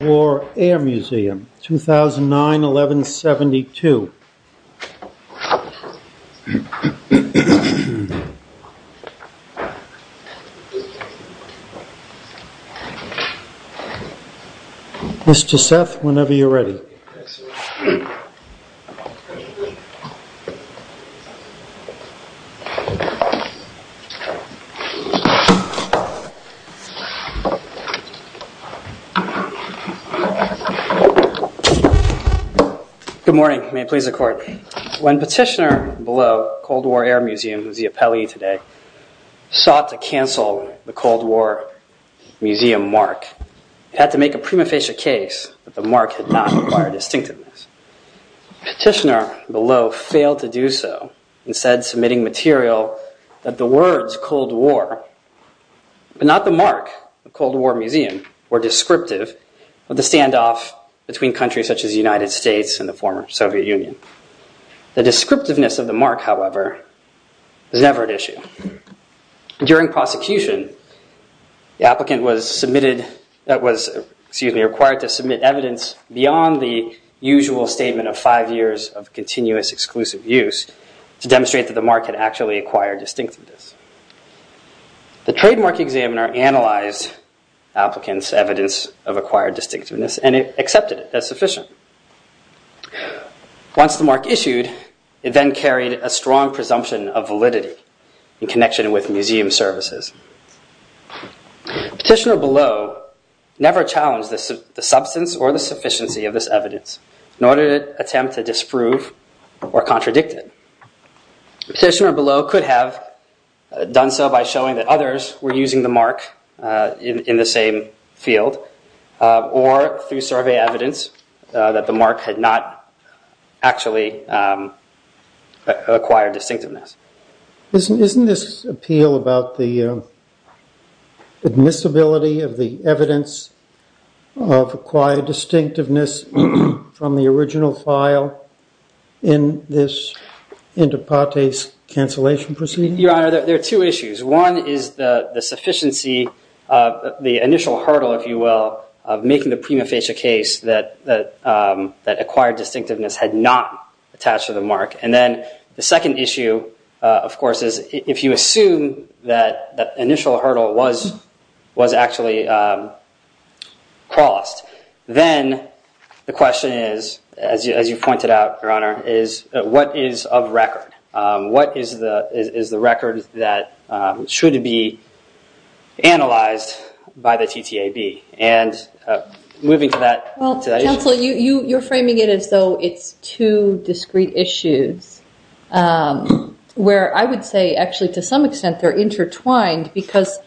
War Air Museum, 2009-11-72 Mr. Seth, whenever you're ready. Good morning. May it please the court. When Petitioner Below, Cold War Air Museum, who's the appellee today, sought to cancel the Cold War Museum mark, it had to make a prima facie case that the mark had not required distinctiveness. Petitioner Below failed to do so, instead submitting material that the standoff between countries such as the United States and the former Soviet Union. The descriptiveness of the mark, however, was never an issue. During prosecution, the applicant was submitted, that was, excuse me, required to submit evidence beyond the usual statement of five years of continuous exclusive use to demonstrate that the mark had actually acquired distinctiveness. The trademark examiner analyzed applicants' evidence of acquired distinctiveness and it accepted it as sufficient. Once the mark issued, it then carried a strong presumption of validity in connection with museum services. Petitioner Below never challenged the substance or the sufficiency of this evidence, nor did it attempt to disprove or contradict it. Petitioner Below could have done so by showing that others were using the mark in the same field, or through survey evidence, that the mark had not actually acquired distinctiveness. Isn't this appeal about the admissibility of the evidence of acquired distinctiveness from the original file in this cancellation proceeding? Your Honor, there are two issues. One is the sufficiency of the initial hurdle, if you will, of making the prima facie case that acquired distinctiveness had not attached to the mark. And then the second issue, of course, is if you assume that the initial hurdle was actually crossed, then the question is, as you pointed out, Your Honor, what is of record? What is the record that should be analyzed by the TTAB? And moving to that issue. Well, counsel, you're framing it as though it's two discrete issues, where I would say actually to some extent they're in Yamaha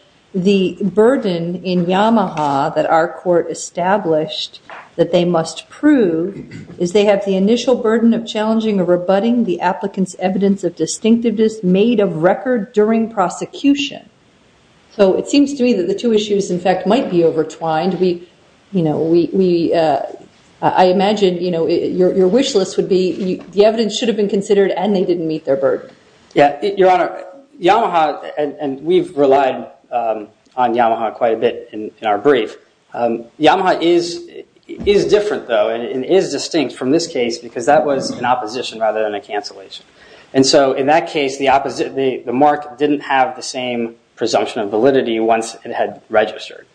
that our court established that they must prove is they have the initial burden of challenging or rebutting the applicant's evidence of distinctiveness made of record during prosecution. So it seems to me that the two issues, in fact, might be overtwined. I imagine your wish list would be the evidence should have been considered and they didn't meet their burden. Yeah, Your Honor, that's a bit in our brief. Yamaha is different, though, and is distinct from this case because that was an opposition rather than a cancellation. And so in that case, the mark didn't have the same presumption of validity once it had registered.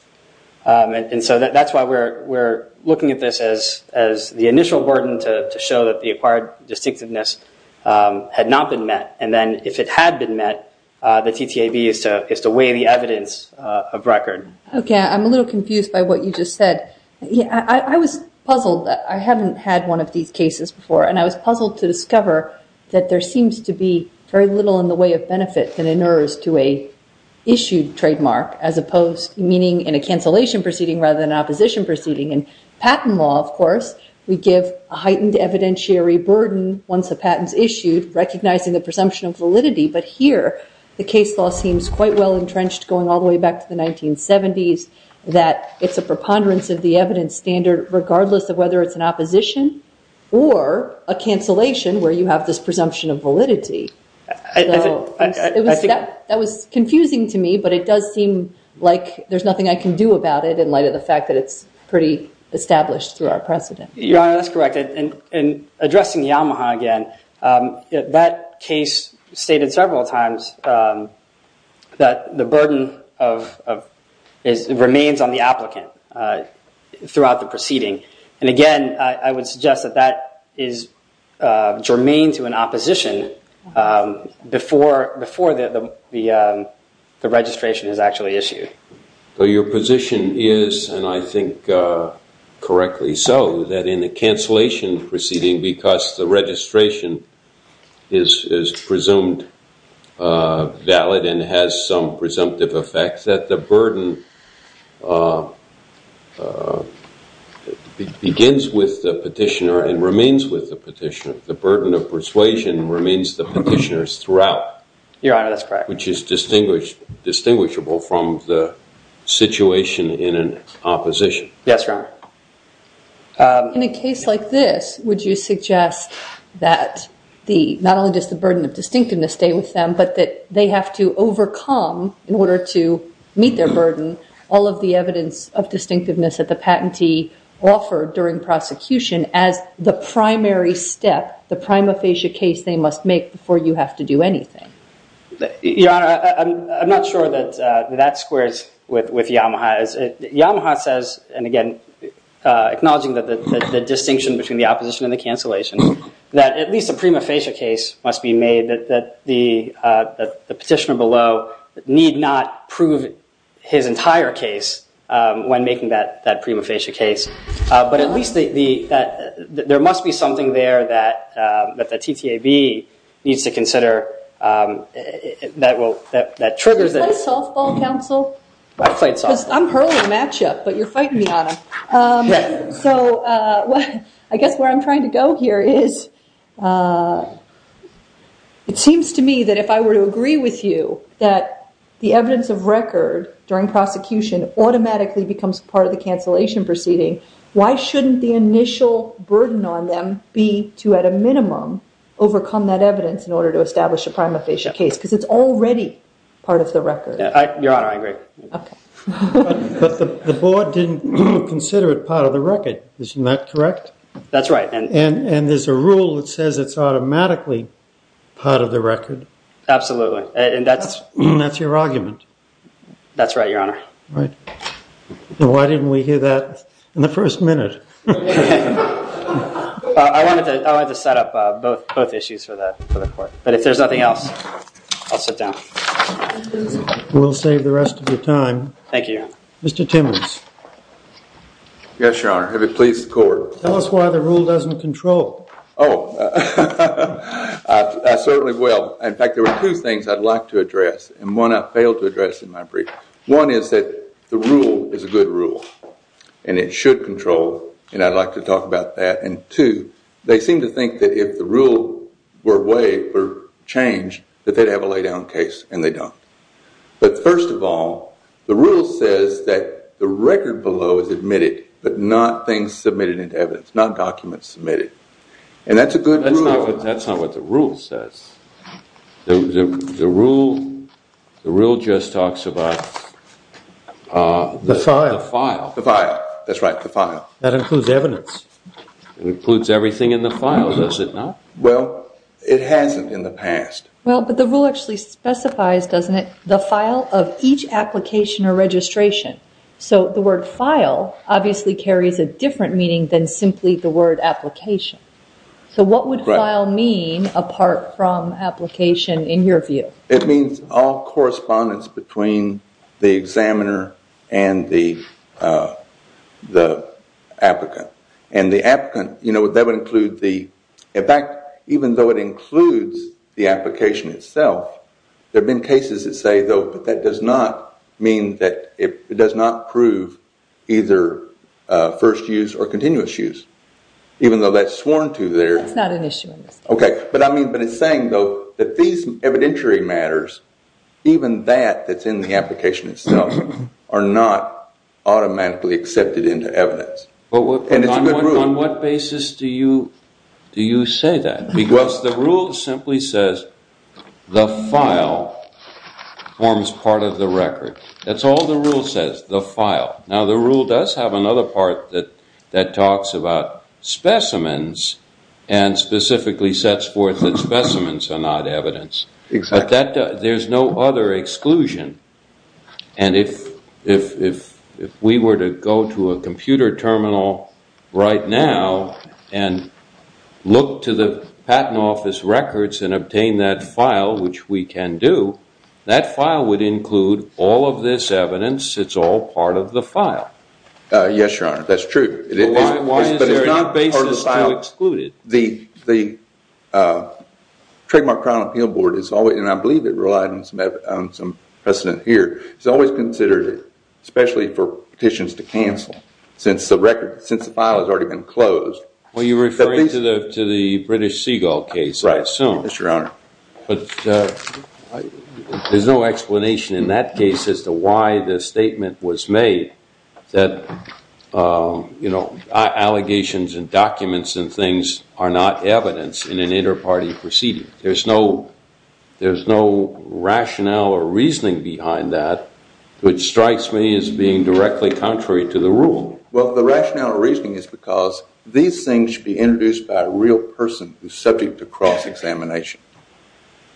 And so that's why we're looking at this as the initial burden to show that the acquired distinctiveness had not been met. And then if it had been met, the TTAB is to weigh the evidence of record. Okay, I'm a little confused by what you just said. I was puzzled. I haven't had one of these cases before, and I was puzzled to discover that there seems to be very little in the way of benefit that inures to a issued trademark as opposed, meaning in a cancellation proceeding rather than an opposition proceeding. In patent law, of course, we give a heightened evidentiary burden once the patent's issued, recognizing the presumption of validity. But here, the case law seems quite well entrenched going all the way back to the 1970s, that it's a preponderance of the evidence standard regardless of whether it's an opposition or a cancellation where you have this presumption of validity. That was confusing to me, but it does seem like there's nothing I can do about it in light of the fact that it's pretty established through our precedent. Your Honor, that's correct. And addressing Yamaha again, that case stated several times that the burden remains on the applicant throughout the proceeding. And again, I would suggest that that is germane to an opposition before the registration is actually issued. So your position is, and I think correctly so, that in the cancellation proceeding, because the registration is presumed valid and has some presumptive effects, that the burden begins with the petitioner and remains with the petitioner. The burden of persuasion remains the petitioner's throughout. Your Honor, that's correct. Which is distinguishable from the situation in an opposition. Yes, Your Honor. In a case like this, would you suggest that not only does the burden of distinctiveness stay with them, but that they have to overcome, in order to meet their burden, all of the evidence of distinctiveness that the patentee offered during prosecution as the primary step, the prima facie case they must make before you have to do anything? Your Honor, I'm not sure that that squares with Yamaha. Yamaha says, and again, acknowledging that the distinction between the opposition and the cancellation, that at least the prima facie case must be made, that the petitioner need not prove his entire case when making that prima facie case. But at least there must be something there that the TTAB needs to consider that triggers it. Did you play softball, counsel? I played softball. I'm hurling a matchup, but you're fighting me on it. So I guess where I'm trying to go here is, it seems to me that if I were to agree with you that the evidence of record during prosecution automatically becomes part of the cancellation proceeding, why shouldn't the initial burden on them be to, at a minimum, overcome that evidence in order to establish a prima facie case? Because it's already part of the record. Your Honor, I agree. But the board didn't consider it part of the record. Isn't that correct? That's right. And there's a rule that says it's automatically part of the record. Absolutely. And that's your argument. That's right, Your Honor. Why didn't we hear that in the first minute? I wanted to set up both issues for the court. But if there's nothing else, I'll sit down. We'll save the rest of your time. Thank you. Mr. Timmons. Yes, Your Honor. Have you pleased the court? Tell us why the rule doesn't control. Oh, I certainly will. In fact, there are two things I'd like to address. And one I failed to address in my brief. One is that the rule is a good rule and it should control. And I'd like to talk about that. And two, they seem to think that if the rule were waived or changed, that they'd have a lay down case. And they don't. But first of all, the rule says that the record below is admitted, but not things submitted into evidence, not documents submitted. And that's a good rule. That's not what the rule says. The rule just talks about the file. The file. That's right, the file. That includes evidence. It includes everything in the file, does it not? Well, it hasn't in the past. Well, but the rule actually specifies, doesn't it, the file of each application or registration. So the word file obviously carries a different meaning than simply the word application. So what would file mean apart from application in your view? It means all correspondence between the examiner and the applicant. And the applicant, you know, that would include the, in fact, even though it includes the application itself, there have been cases that say, though, that does not mean that it does not prove either first use or continuous use. Even though that's sworn to there. That's not an issue. OK, but I mean, but it's saying, though, that these evidentiary matters, even that that's in the application itself, are not automatically accepted into evidence. But on what basis do you do you say that? Because the rule simply says the file forms part of the record. That's all the rule says, the file. Now, the rule does have another part that that talks about specimens and specifically sets forth that specimens are not evidence. But that there's no other exclusion. And if if if if we were to go to a computer terminal right now and look to the Patent Office records and obtain that file, which we can do, that file would include all of this evidence. It's all part of the file. Yes, your honor. That's true. Why is there a basis to exclude it? The the trademark Crown Appeal Board is always and I believe it relied on some precedent here. It's always considered, especially for petitions to cancel since the record since the file has already been closed. Well, you refer to the to the British Seagull case, right? So, Mr. Arner, but there's no explanation in that case as to why the statement was made that, you know, allegations and documents and things are not evidence in an inter-party proceeding. There's no there's no rationale or reasoning behind that, which strikes me as being directly contrary to the rule. Well, the rationale or reasoning is because these things should be introduced by a real person who's subject to cross-examination.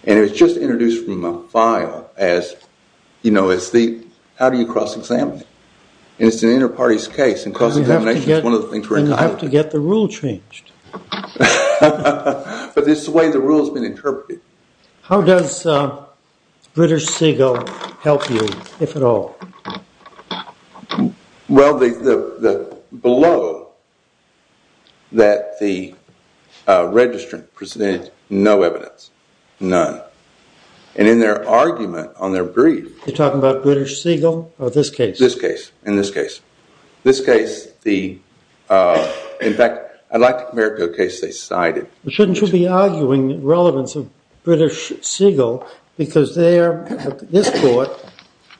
And it was just introduced from a file as, you know, as the how do you cross-examine? And it's an inter-parties case. And cross-examination is one of the things we have to get the rule changed. But this way the rule has been interpreted. How does British Seagull help you, if at all? Well, the below that the registrant presented no evidence, none. And in their argument on their brief, you're talking about British Seagull or this case, this case, in this case, this case, the in fact, I'd like to compare it to a case they cited. Shouldn't you be arguing the relevance of British Seagull? Because this court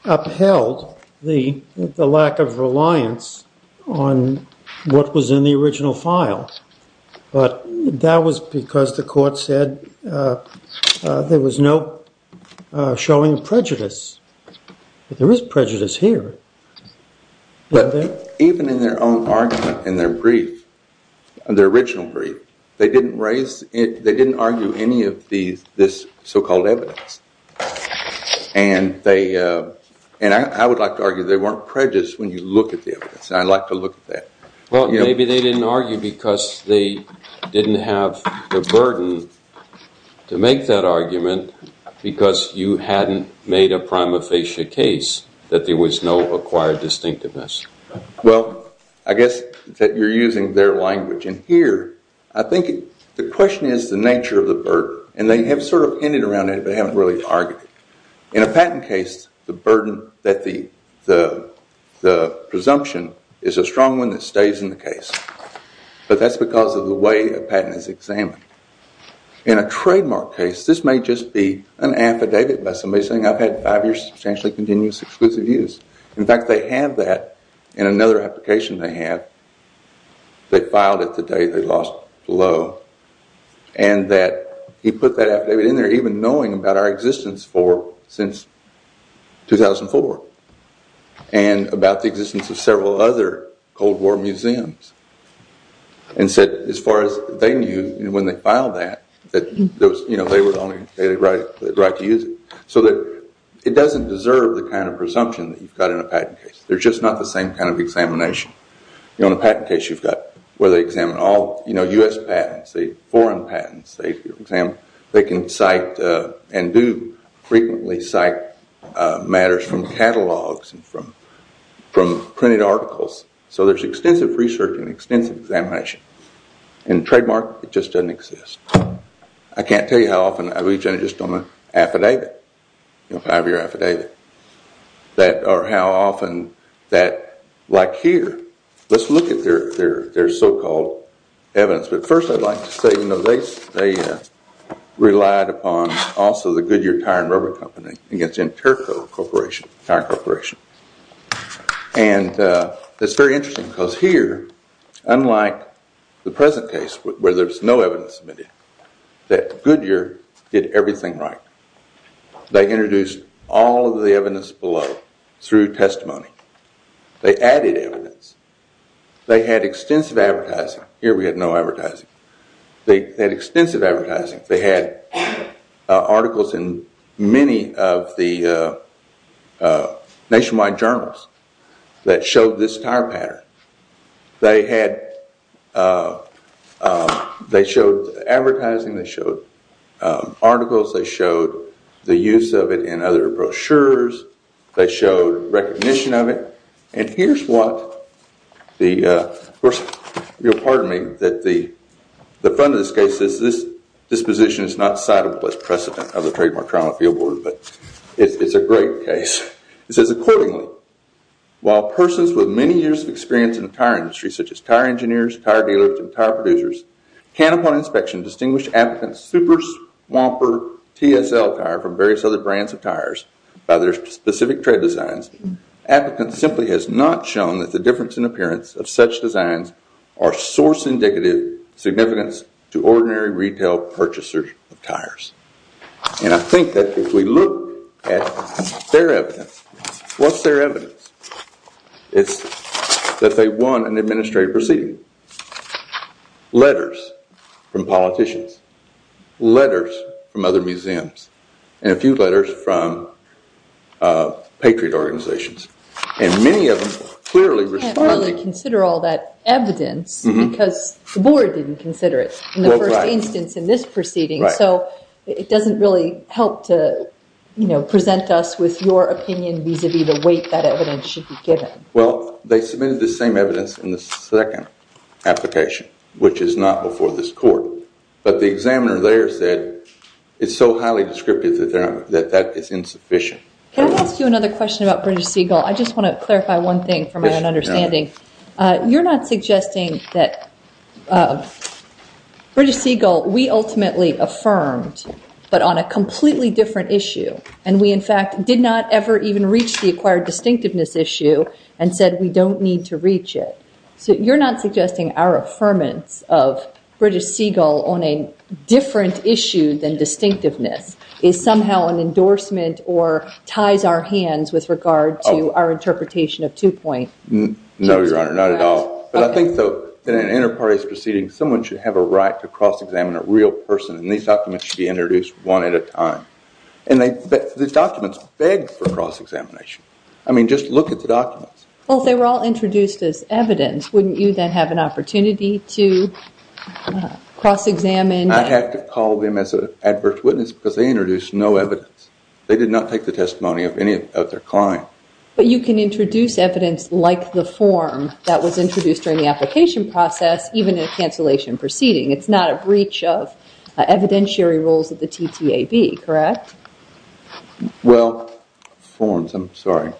upheld the lack of reliance on what was in the original file. But that was because the court said there was no showing prejudice. There is prejudice here. But even in their own argument, in their brief, their original brief, they didn't raise it. They didn't argue any of these, this so-called evidence. And they and I would like to argue they weren't prejudiced when you look at the evidence. I'd like to look at that. Well, maybe they didn't argue because they didn't have the burden to make that argument because you hadn't made a prima facie case. That there was no acquired distinctiveness. Well, I guess that you're using their language. And here, I think the question is the nature of the burden and they have sort of ended around it, but haven't really argued. In a patent case, the burden that the presumption is a strong one that stays in the case. But that's because of the way a patent is examined. In a trademark case, this may just be an affidavit by somebody saying I've had five years of substantially continuous exclusive use. In fact, they have that in another application they have. They filed it the day they lost Lowe and that he put that affidavit in there even knowing about our existence since 2004. And about the existence of several other Cold War museums. And said as far as they knew when they filed that, that they were only entitled to the right to use it. So that it doesn't deserve the kind of presumption that you've got in a patent case. They're just not the same kind of examination. In a patent case, you've got where they examine all US patents, foreign patents. They can cite and do frequently cite matters from catalogs and from printed articles. So there's extensive research and extensive examination. In a trademark, it just doesn't exist. I can't tell you how often I've reached out just on an affidavit, a five-year affidavit. Or how often that, like here, let's look at their so-called evidence. But first I'd like to say they relied upon also the Goodyear Tire and Rubber Company against Interco Corporation, Tire Corporation. And it's very interesting because here, unlike the present case where there's no evidence submitted, that Goodyear did everything right. They introduced all of the evidence below through testimony. They added evidence. They had extensive advertising. Here we have no advertising. They had extensive advertising. They had articles in many of the nationwide journals that showed this tire pattern. They had, they showed advertising. They showed articles. They showed the use of it in other brochures. They showed recognition of it. And here's what the, of course, pardon me, that the front of this case says, this disposition is not citable as precedent of the Trademark Trial and Appeal Board, but it's a great case. It says, accordingly, while persons with many years of experience in the tire industry, such as tire engineers, tire dealers, and tire producers, can, upon inspection, distinguish applicants' Super Swamper TSL tire from various other brands of tires by their specific tread designs, applicants simply has not shown that the difference in appearance of such designs are source indicative significance to ordinary retail purchasers of tires. And I think that if we look at their evidence, what's their evidence? It's that they won an administrative proceeding. Letters from politicians. Letters from other museums. And a few letters from patriot organizations. And many of them clearly responded. I can't really consider all that evidence because the board didn't consider it in the first instance in this proceeding. So it doesn't really help to present us with your opinion vis-a-vis the weight that evidence should be given. Well, they submitted the same evidence in the second application, which is not before this court. But the examiner there said it's so highly descriptive that that is insufficient. Can I ask you another question about British Seagull? I just want to clarify one thing for my own understanding. You're not suggesting that British Seagull, we ultimately affirmed, but on a completely different issue. And we, in fact, did not ever even reach the acquired distinctiveness issue and said we don't need to reach it. So you're not suggesting our affirmance of British Seagull on a different issue than distinctiveness is somehow an endorsement or ties our hands with regard to our interpretation of two-point? No, Your Honor, not at all. But I think that in an inter-parties proceeding, someone should have a right to cross-examine a real person. And these documents should be introduced one at a time. And the documents begged for cross-examination. I mean, just look at the documents. Well, they were all introduced as evidence. Wouldn't you then have an opportunity to cross-examine? I'd have to call them as an adverse witness because they introduced no evidence. They did not take the testimony of any of their clients. But you can introduce evidence like the form that was introduced during the application process, even in a cancellation proceeding. It's not a breach of evidentiary rules of the TTAB, correct? Well, forms, I'm sorry.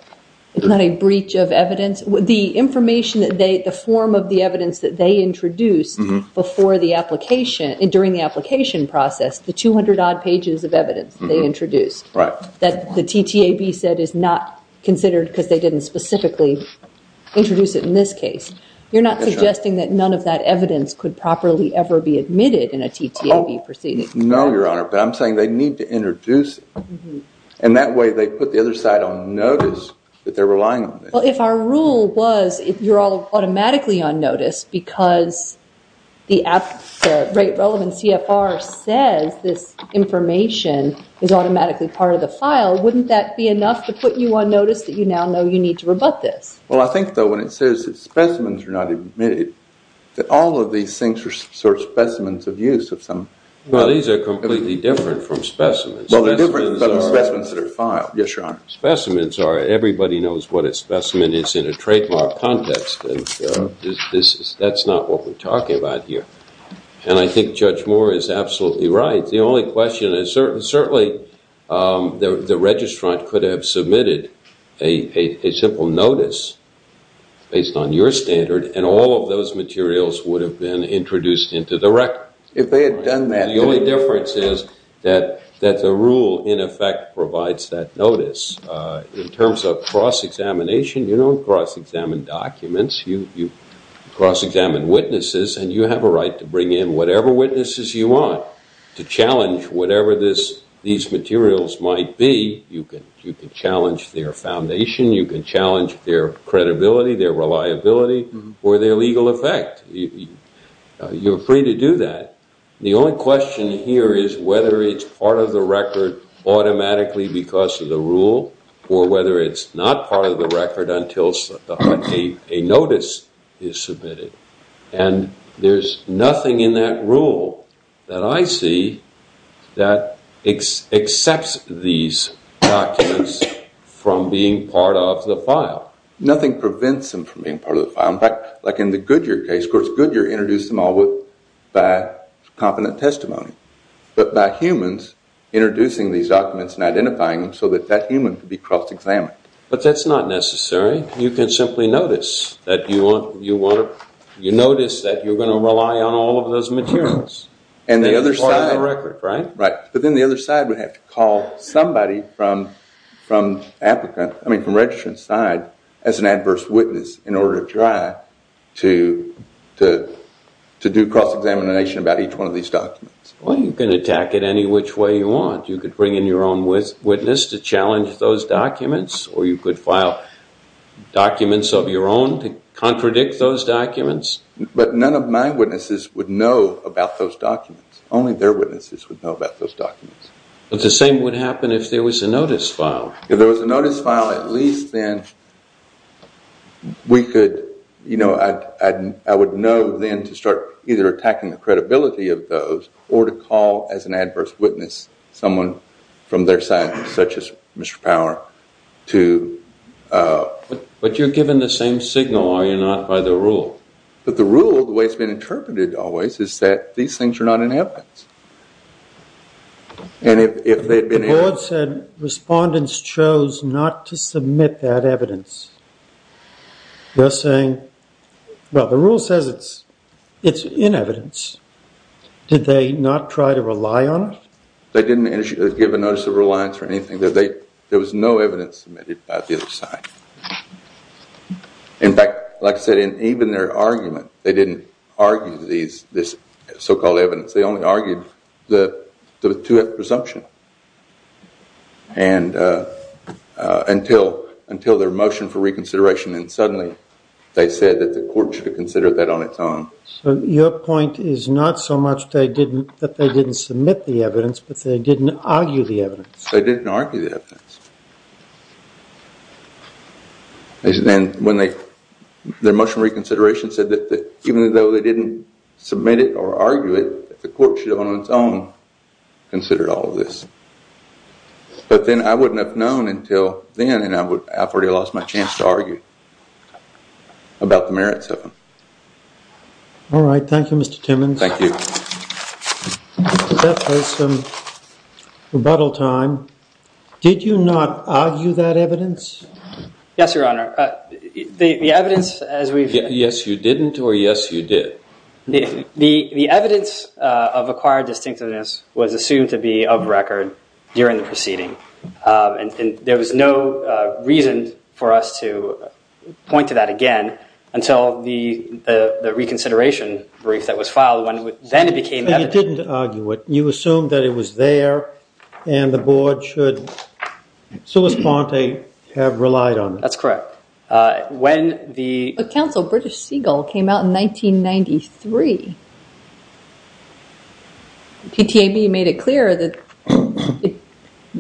It's not a breach of evidence. The information that they, the form of the evidence that they introduced before the application, during the application process, the 200-odd pages of evidence they introduced. Right. That the TTAB said is not considered because they didn't specifically introduce it in this case. You're not suggesting that none of that evidence could properly ever be admitted in a TTAB proceeding? No, Your Honor. But I'm saying they need to introduce it. And that way they put the other side on notice that they're relying on this. Well, if our rule was you're all automatically on notice because the rate relevant CFR says this information is automatically part of the file, wouldn't that be enough to put you on notice that you now know you need to rebut this? Well, I think, though, when it says specimens are not admitted, that all of these things are specimens of use of some... Well, these are completely different from specimens. Well, they're different from specimens that are filed. Yes, Your Honor. Specimens are, everybody knows what a specimen is in a trademark context. That's not what we're talking about here. And I think Judge Moore is absolutely right. The only question is certainly the registrant could have submitted a simple notice based on your standard, and all of those materials would have been introduced into the record. If they had done that... The only difference is that the rule, in effect, provides that notice. In terms of cross-examination, you don't cross-examine documents. You cross-examine witnesses, and you have a right to bring in whatever witnesses you want to challenge whatever these materials might be. You can challenge their foundation. You can challenge their credibility, their reliability, or their legal effect. You're free to do that. The only question here is whether it's part of the record automatically because of the rule, or whether it's not part of the record until a notice is submitted. And there's nothing in that rule that I see that accepts these documents from being part of the file. Nothing prevents them from being part of the file. In the Goodyear case, of course, Goodyear introduced them all by confident testimony. But by humans introducing these documents and identifying them so that that human could be cross-examined. But that's not necessary. You can simply notice that you're going to rely on all of those materials. And the other side... That's part of the record, right? to do cross-examination about each one of these documents. Well, you can attack it any which way you want. You could bring in your own witness to challenge those documents, or you could file documents of your own to contradict those documents. But none of my witnesses would know about those documents. Only their witnesses would know about those documents. But the same would happen if there was a notice file. If there was a notice file, at least then we could... I would know then to start either attacking the credibility of those or to call as an adverse witness someone from their side, such as Mr. Power, to... But you're given the same signal, are you not, by the rule? But the rule, the way it's been interpreted always, is that these things are not in evidence. And if they'd been... The board said respondents chose not to submit that evidence. They're saying... Well, the rule says it's in evidence. Did they not try to rely on it? They didn't give a notice of reliance or anything. There was no evidence submitted by the other side. In fact, like I said, in even their argument, they didn't argue this so-called evidence. They only argued the presumption. And until their motion for reconsideration, and suddenly they said that the court should consider that on its own. So your point is not so much that they didn't submit the evidence, but they didn't argue the evidence. They didn't argue the evidence. And when they... Their motion for reconsideration said that even though they didn't submit it or argue it, the court should on its own consider all of this. But then I wouldn't have known until then, and I've already lost my chance to argue about the merits of it. All right. Thank you, Mr. Timmons. Thank you. Mr. Beth has some rebuttal time. Did you not argue that evidence? Yes, Your Honor. The evidence, as we've... Yes, you didn't, or yes, you did. The evidence of acquired distinctiveness was assumed to be of record during the proceeding. And there was no reason for us to point to that again until the reconsideration brief that was filed. Then it became evident. But you didn't argue it. You assumed that it was there, and the board should, solis ponte, have relied on it. That's correct. When the... But, counsel, British Segal came out in 1993. TTAB made it clear that,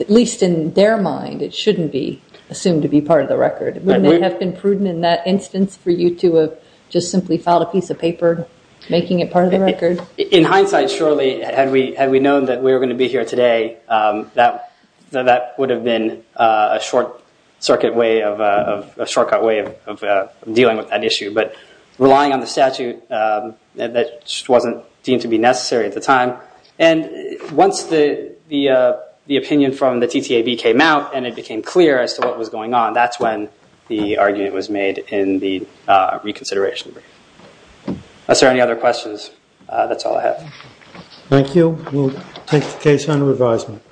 at least in their mind, it shouldn't be assumed to be part of the record. Wouldn't it have been prudent in that instance for you to have just simply filed a piece of paper making it part of the record? In hindsight, surely, had we known that we were going to be here today, that would have been a shortcut way of dealing with that issue. But relying on the statute, that just wasn't deemed to be necessary at the time. And once the opinion from the TTAB came out and it became clear as to what was going on, that's when the argument was made in the reconsideration brief. Unless there are any other questions, that's all I have. Thank you. We'll take the case under advisement.